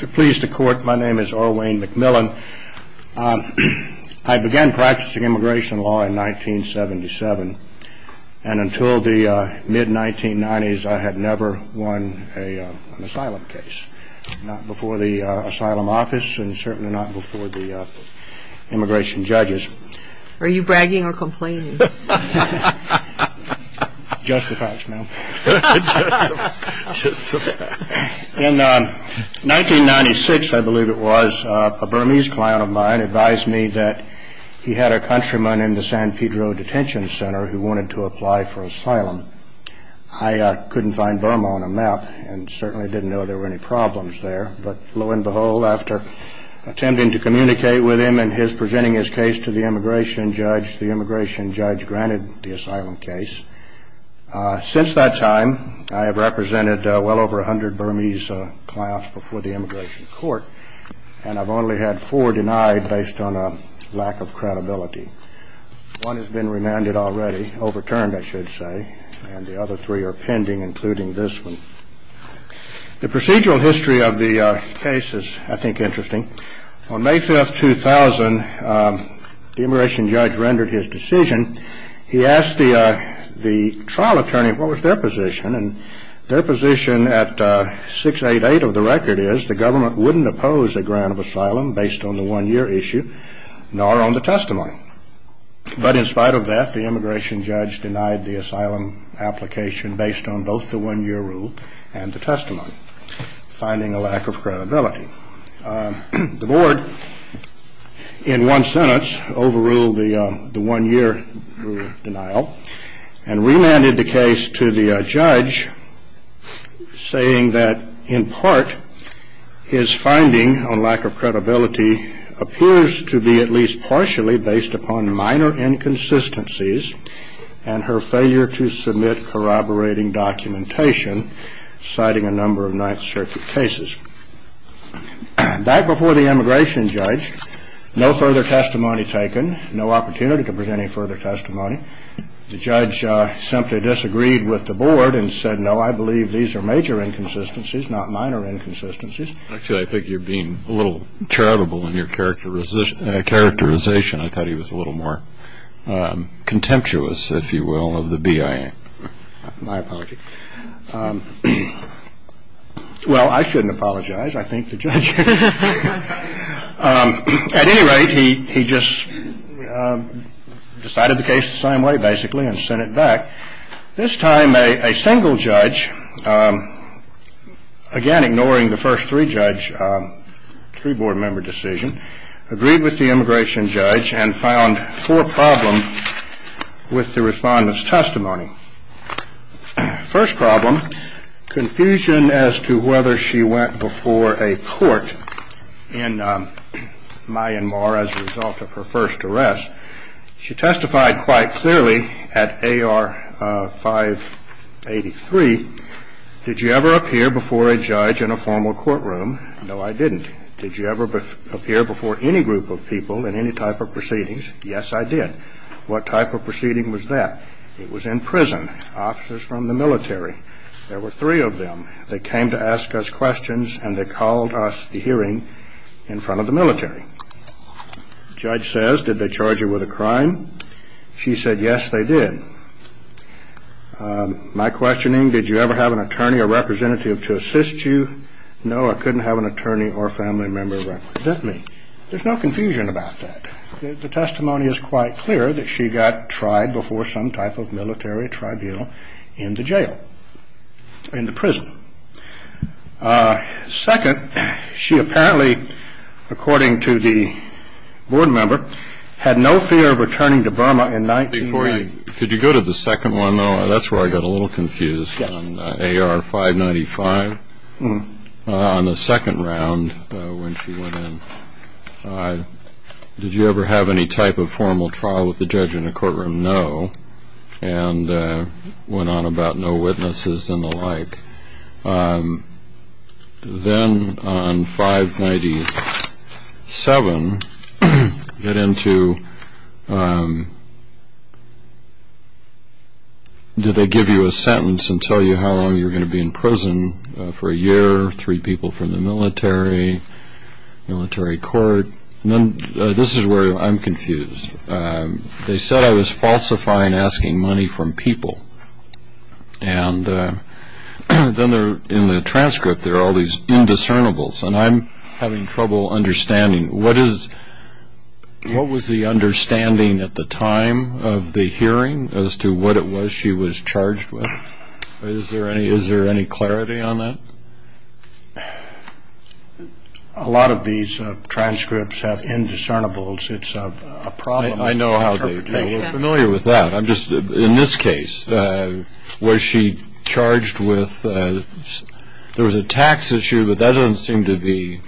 To please the court, my name is Orwain McMillan. I began practicing immigration law in 1977, and until the mid-1990s, I had never won an asylum case, not before the asylum office and certainly not before the immigration judges. Are you bragging or complaining? Justifacts, ma'am. Justifacts. In 1996, I believe it was, a Burmese client of mine advised me that he had a countryman in the San Pedro detention center who wanted to apply for asylum. I couldn't find Burma on a map and certainly didn't know there were any problems there, but lo and behold, after attempting to communicate with him and his presenting his case to the immigration judge, the immigration judge granted the asylum case. Since that time, I have represented well over 100 Burmese clients before the immigration court, and I've only had four denied based on a lack of credibility. One has been remanded already, overturned, I should say, and the other three are pending, including this one. The procedural history of the case is, I think, interesting. On May 5, 2000, the immigration trial attorney, what was their position? And their position at 688 of the record is the government wouldn't oppose a grant of asylum based on the one-year issue, nor on the testimony. But in spite of that, the immigration judge denied the asylum application based on both the one-year rule and the testimony, finding a lack of credibility. The board, in one sentence, overruled the one-year rule denial and remanded the case to the judge, saying that, in part, his finding on lack of credibility appears to be at least partially based upon minor inconsistencies and her failure to submit corroborating documentation, citing a number of Ninth Circuit cases. Back before the immigration judge, no further testimony taken, no opportunity to present any further testimony. The judge simply disagreed with the board and said, no, I believe these are major inconsistencies, not minor inconsistencies. Actually, I think you're being a little charitable in your characterization. I thought he was a little more contemptuous, if you will, of the BIA. My apologies. Well, I shouldn't apologize. I think the judge... At any rate, he just decided the case the same way, basically, and sent it back. This time, a single judge, again, ignoring the first three-judge, three-board member decision, agreed with the immigration judge and found four problems with the Respondent's testimony. First problem, confusion as to whether she went before a court in Myanmar as a result of her first arrest. She testified quite clearly at AR 583, did you ever appear before a judge in a formal courtroom? No, I didn't. Did you ever appear before any group of people in any type of proceedings? Yes, I did. What type of proceeding was that? It was in prison. Officers from the military. There were three of them. They came to ask us questions, and they called us to hearing in front of the military. Judge says, did they charge you with a crime? She said, yes, they did. My questioning, did you ever have an attorney or representative to assist you? No, I couldn't have an attorney or family member represent me. There's no confusion about that. The testimony is quite clear that she got tried before some type of military tribunal in the jail, in the prison. Second, she apparently, according to the board member, had no fear of returning to Burma in 1990. Could you go to the second one? That's where I got a little confused, on AR 595, on the formal trial with the judge in the courtroom, no, and went on about no witnesses and the like. Then on 597, get into, did they give you a sentence and tell you how long you were going to be in prison for a year, three people from the military, military court? This is where I'm confused. They said I was falsifying, asking money from people, and then in the transcript there are all these indiscernibles, and I'm having trouble understanding, what is, what was the understanding at the time of the hearing as to what it was she was charged with? Is there any clarity on that? Well, a lot of these transcripts have indiscernibles. It's a problem. I know how they do. We're familiar with that. I'm just, in this case, was she charged with, there was a tax issue, but that doesn't seem to be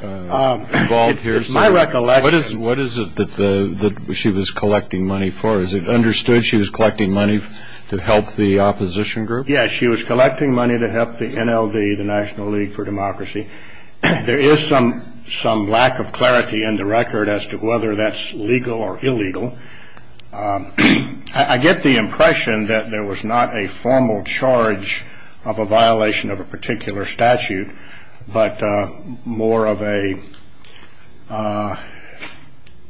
involved here. It's my recollection. What is it that she was collecting money for? Is it understood she was collecting money to help the opposition group? Yes, she was collecting money to help the NLD, the National League for Democracy. There is some lack of clarity in the record as to whether that's legal or illegal. I get the impression that there was not a formal charge of a violation of a particular statute, but more of a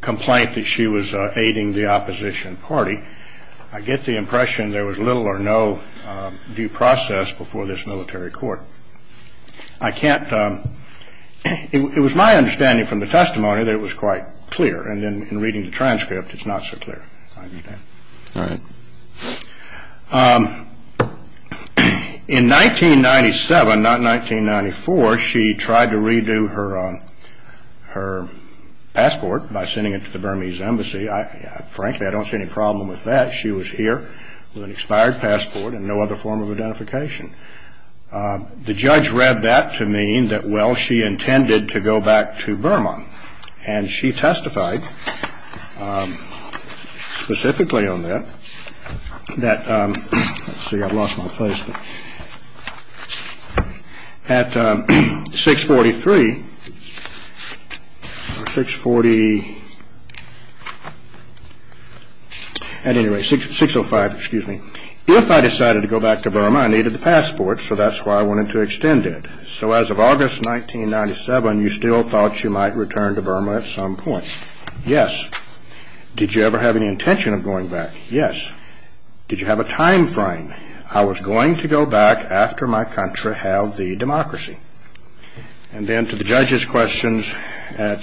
complaint that she was aiding the opposition party. I get the impression there was little or no due process before this military court. I can't, it was my understanding from the testimony that it was quite clear, and then in reading the transcript, it's not so clear. In 1997, not 1994, she tried to redo her passport by sending it to the Burmese Embassy. Frankly, I don't see any problem with that. She was here with an expired passport and no other form of identification. The judge read that to mean that, well, she intended to go back to Burma, and she testified specifically on that, that, let's see, I've lost my place. At any rate, 605, excuse me. If I decided to go back to Burma, I needed the passport, so that's why I wanted to extend it. So as of August 1997, you still thought she might return to Burma at some point. Yes. Did you ever have any intention of going back? Yes. Did you have a time frame? I was going to go back after my country held the democracy. And then to the judge's questions at...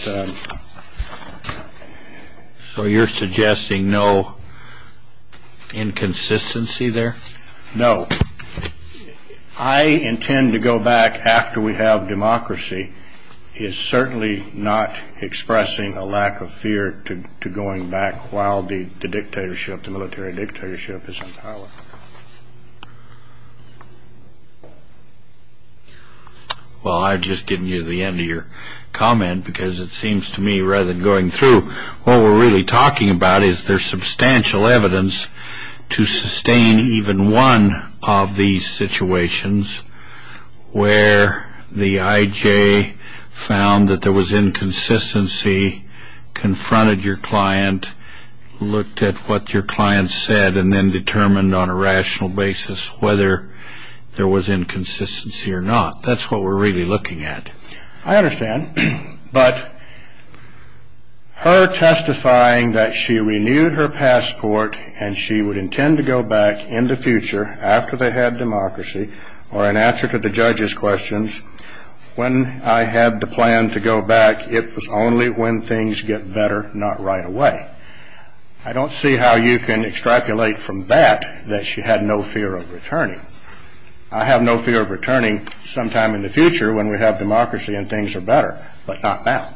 So you're suggesting no inconsistency there? No. I intend to go back after we have democracy. He is certainly not expressing a lack of fear to going back while the dictatorship, the military dictatorship, is in power. Well, I've just given you the end of your comment because it seems to me rather than going through, what we're really talking about is there's substantial evidence to sustain even one of these situations where the I.J. found that there was inconsistency, confronted your client, looked at what your client said, and then determined on a rational basis whether there was inconsistency or not. That's what we're really looking at. I understand. But her testifying that she renewed her passport and she would intend to go back in the future after they had democracy or in answer to the judge's questions, when I had the plan to go back, it was only when things get better, not right away. I don't see how you can extrapolate from that that she had no fear of returning. I have no fear of returning sometime in the future when we have democracy and things are better, but not now.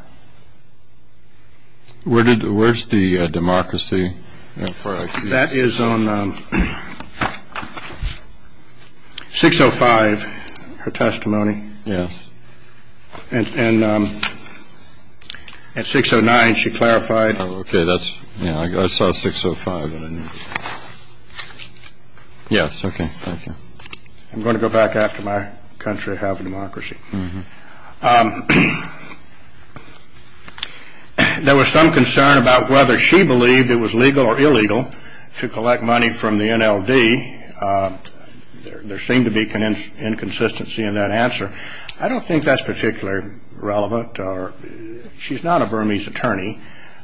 Where's the democracy? That is on 605, her testimony. At 609 she said, I'm going to go back after my country and have democracy. There was some concern about whether she believed it was legal or illegal to collect money from the NLD. There seemed to be inconsistency in that answer. I don't think that's particularly relevant. She's not a Burmese attorney.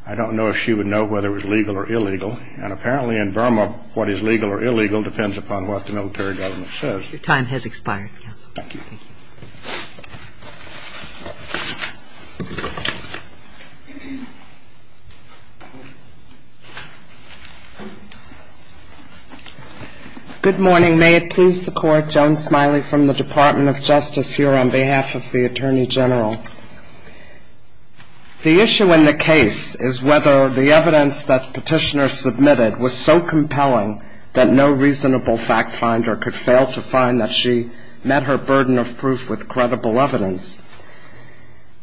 I don't know if she would know whether it was legal or illegal. Your time has expired. Thank you. Good morning. May it please the Court, Joan Smiley from the Department of Justice here on behalf of the Attorney General. The issue in the case is whether the evidence that Petitioner submitted was so compelling that no reasonable fact finder could fail to find that she met her burden of proof with credible evidence.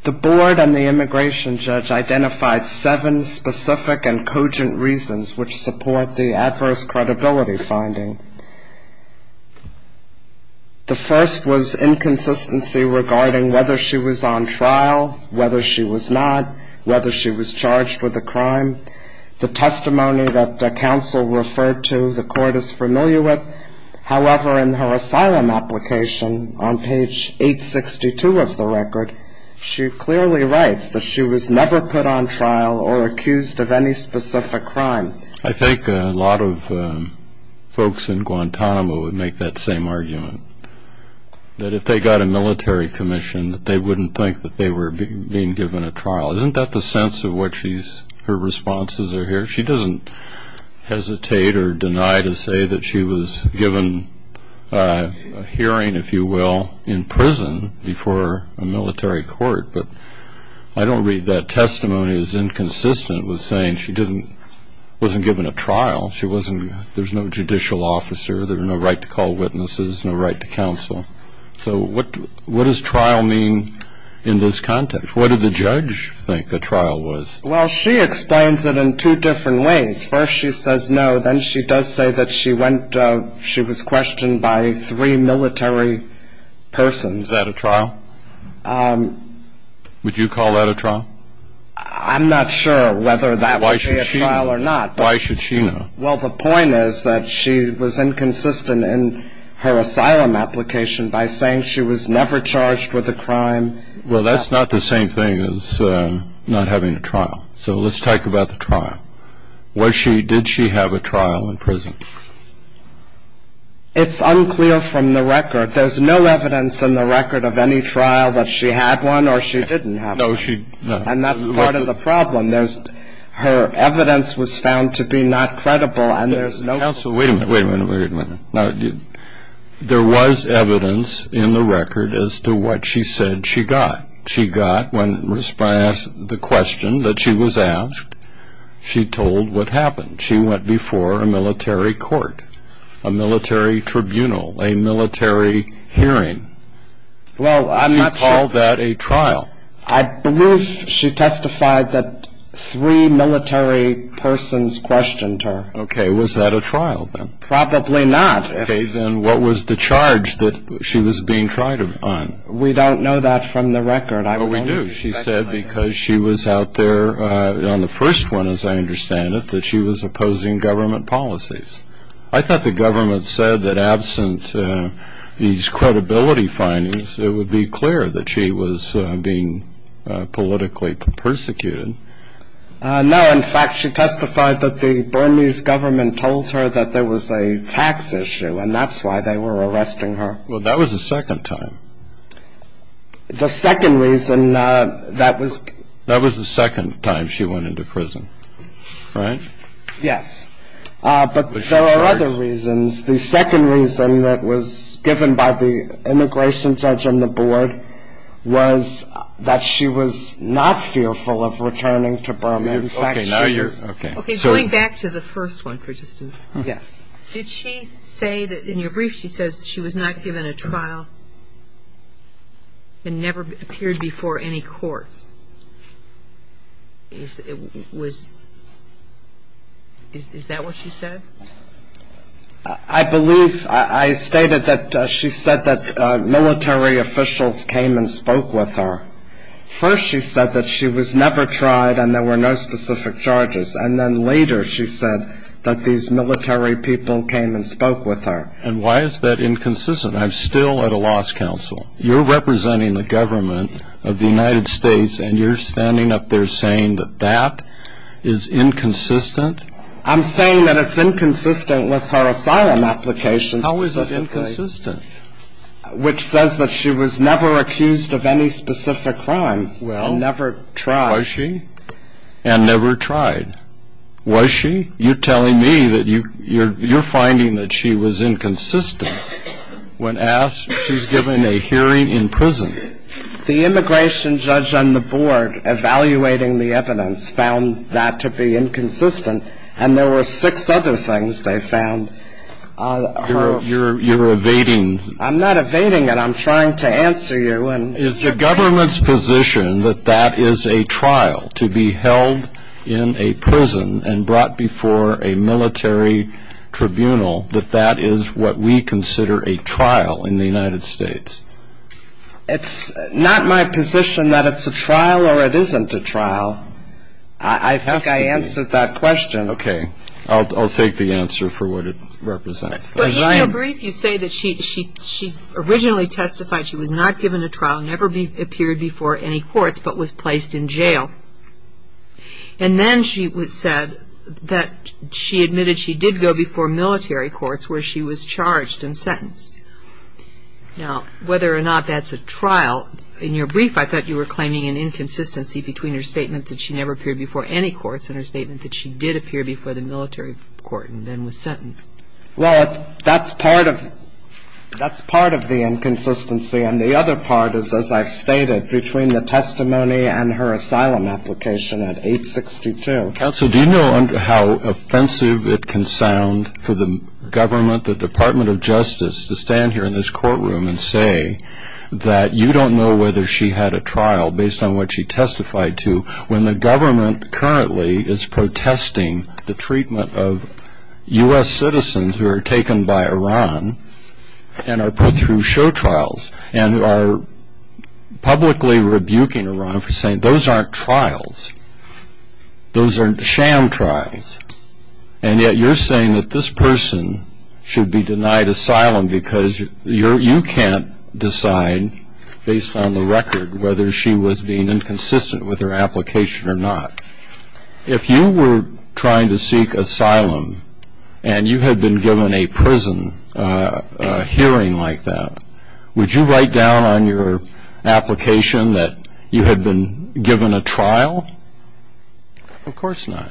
The Board and the immigration judge identified seven specific and cogent reasons which support the adverse credibility finding. The first was inconsistency regarding whether she was on trial, whether she was not, whether she was charged with a crime. The testimony that counsel referred to, the Court is familiar with. However, in her asylum application on page 862 of the record, she clearly writes that she was never put on trial or accused of any specific crime. I think a lot of folks in Guantanamo would make that same argument, that if they got a military commission that they wouldn't think that they were being given a trial. Isn't that the sense of what she's, her responses are here? She doesn't hesitate or deny to say that she was given a hearing, if you will, in prison before a military court. But I don't read that testimony as inconsistent with saying she didn't, wasn't given a trial. She wasn't, there's no judicial officer, there's no right to call witnesses, no right to counsel. So what does trial mean in this context? What did the judge think a trial was? Well, she explains it in two different ways. First she says no, then she does say that she went, she was questioned by three military persons. Is that a trial? Would you call that a trial? I'm not sure whether that would be a trial or not. Why should she know? Well, the point is that she was inconsistent in her asylum application by saying she was never charged with a crime. Well, that's not the same thing as not having a trial. So let's talk about the trial. Was she, did she have a trial in prison? It's unclear from the record. There's no evidence in the record of any trial that she had one or she didn't have one. No, she, no. That's part of the problem. There's, her evidence was found to be not credible and there's no proof. Counselor, wait a minute, wait a minute, wait a minute. Now, there was evidence in the record as to what she said she got. She got, when asked the question that she was asked, she told what happened. She went before a military court, a military tribunal, a military hearing. Well, I'm not sure. Would you call that a trial? I believe she testified that three military persons questioned her. Okay, was that a trial then? Probably not. Okay, then what was the charge that she was being tried on? We don't know that from the record. Oh, we do. She said because she was out there on the first one, as I understand it, that she was opposing government policies. I thought the government said that absent these credibility findings, it would be clear that she was being politically persecuted. No, in fact, she testified that the Burmese government told her that there was a tax issue and that's why they were arresting her. Well, that was the second time. The second reason that was... That was the second time she went into prison, right? Yes, but there are other reasons. The second reason that was given by the immigration judge on the board was that she was not fearful of returning to Burma. In fact, she was. Okay, going back to the first one for just a moment. Did she say that in your brief she says that she was not given a trial and never appeared before any courts? It was... Is that what she said? I believe I stated that she said that military officials came and spoke with her. First she said that she was never tried and there were no specific charges. And then later she said that these military people came and spoke with her. And why is that inconsistent? I'm still at a loss, counsel. You're representing the government of the United States and you're standing up there saying that that is inconsistent? I'm saying that it's inconsistent with her asylum application specifically. How is it inconsistent? Which says that she was never accused of any specific crime and never tried. Well, was she? And never tried. Was she? You're telling me that you're finding that she was the immigration judge on the board evaluating the evidence found that to be inconsistent and there were six other things they found. You're evading... I'm not evading it. I'm trying to answer you. Is the government's position that that is a trial, to be held in a prison and brought before a military tribunal, that that is what we consider a trial in the United States? It's not my position that it's a trial or it isn't a trial. I think I answered that question. Okay. I'll take the answer for what it represents. But in your brief you say that she originally testified she was not given a trial, never appeared before any courts, but was placed in jail. And then she said that she admitted she did go before military courts where she was charged and sentenced. Now, whether or not that's a trial, in your brief I thought you were claiming an inconsistency between her statement that she never appeared before any courts and her statement that she did appear before the military court and then was sentenced. Well, that's part of the inconsistency. And the other part is, as I've stated, between the testimony and her asylum application at 862. Counsel, do you know how offensive it can sound for the government, the Department of Justice, to stand here in this courtroom and say that you don't know whether she had a trial based on what she testified to when the government currently is protesting the treatment of U.S. citizens who are taken by Iran and are put through show trials and are publicly rebuking Iran for saying, those aren't trials. Those are sham trials. And yet you're saying that this person should be denied asylum because you can't decide based on the record whether she was being inconsistent with her application or not. If you were trying to seek asylum and you had been given a prison hearing like that, would you write down on your application that you had been given a trial? Of course not.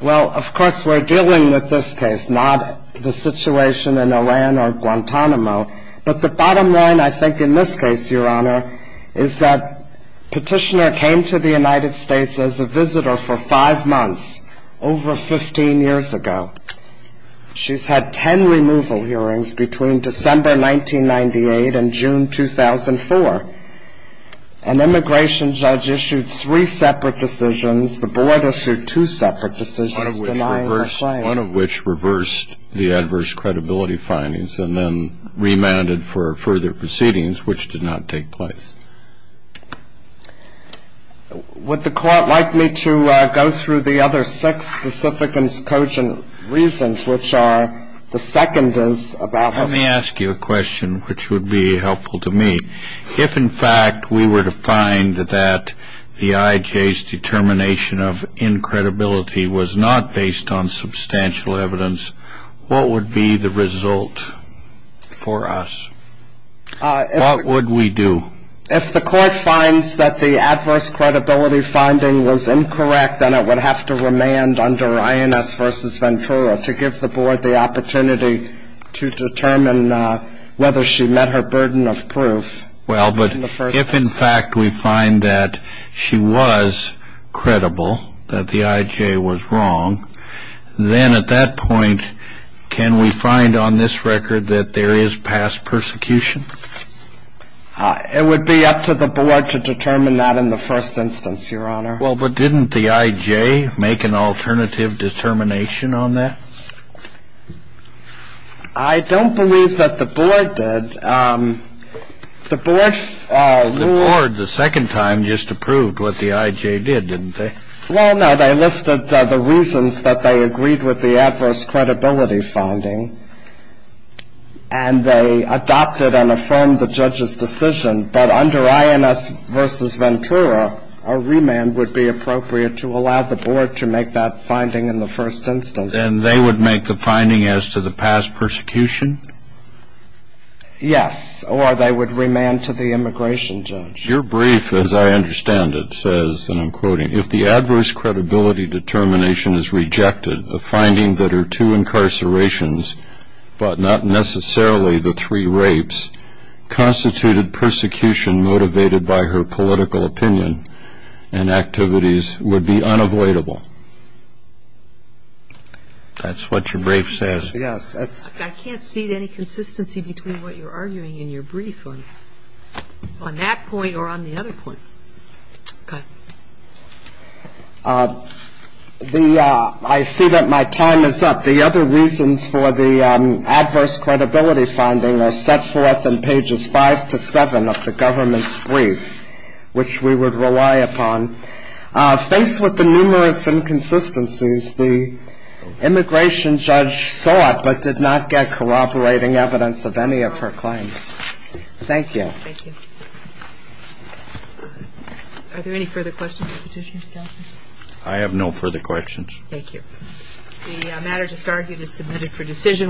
Well, of course we're dealing with this case, not the situation in Iran or Guantanamo. But the bottom line, I think, in this case, Your Honor, is that Petitioner came to the United States as a visitor for five months, over 15 years ago. She's had 10 removal hearings between December 1998 and June 2004. An immigration judge issued three separate decisions. The court issued two separate decisions denying her claim. One of which reversed the adverse credibility findings and then remanded for further proceedings, which did not take place. Would the Court like me to go through the other six specific and cogent reasons, which are the second is about... Let me ask you a question which would be helpful to me. If, in fact, we were to find that the negative in credibility was not based on substantial evidence, what would be the result for us? What would we do? If the Court finds that the adverse credibility finding was incorrect, then it would have to remand under INS v. Ventura to give the Board the opportunity to determine whether she met her burden of proof in the first instance. If, in fact, we find that she was credible, that the I.J. was wrong, then at that point, can we find on this record that there is past persecution? It would be up to the Board to determine that in the first instance, Your Honor. Well, but didn't the I.J. make an alternative determination on that? I don't believe that the Board did. The Board ruled... The Board, the second time, just approved what the I.J. did, didn't they? Well, no. They listed the reasons that they agreed with the adverse credibility finding, and they adopted and affirmed the judge's decision. But under INS v. Ventura, a remand would be appropriate to allow the Board to make that finding in the first instance. And they would make the finding as to the past persecution? Yes, or they would remand to the immigration judge. Your brief, as I understand it, says, and I'm quoting, If the adverse credibility determination is rejected, the finding that her two incarcerations, but not necessarily the three rapes, constituted persecution motivated by her political opinion and activities would be unavoidable. That's what your brief says? Yes. I can't see any consistency between what you're arguing in your brief on that point or on the other point. Okay. I see that my time is up. The other reasons for the adverse credibility finding are set forth in pages 5 to 7 of the government's brief, which we would rely upon. Faced with the numerous inconsistencies, the immigration judge sought, but did not get corroborating evidence of any of her claims. Thank you. Thank you. Are there any further questions or petitions, Counselor? I have no further questions. Thank you. The matter just argued is submitted for decision.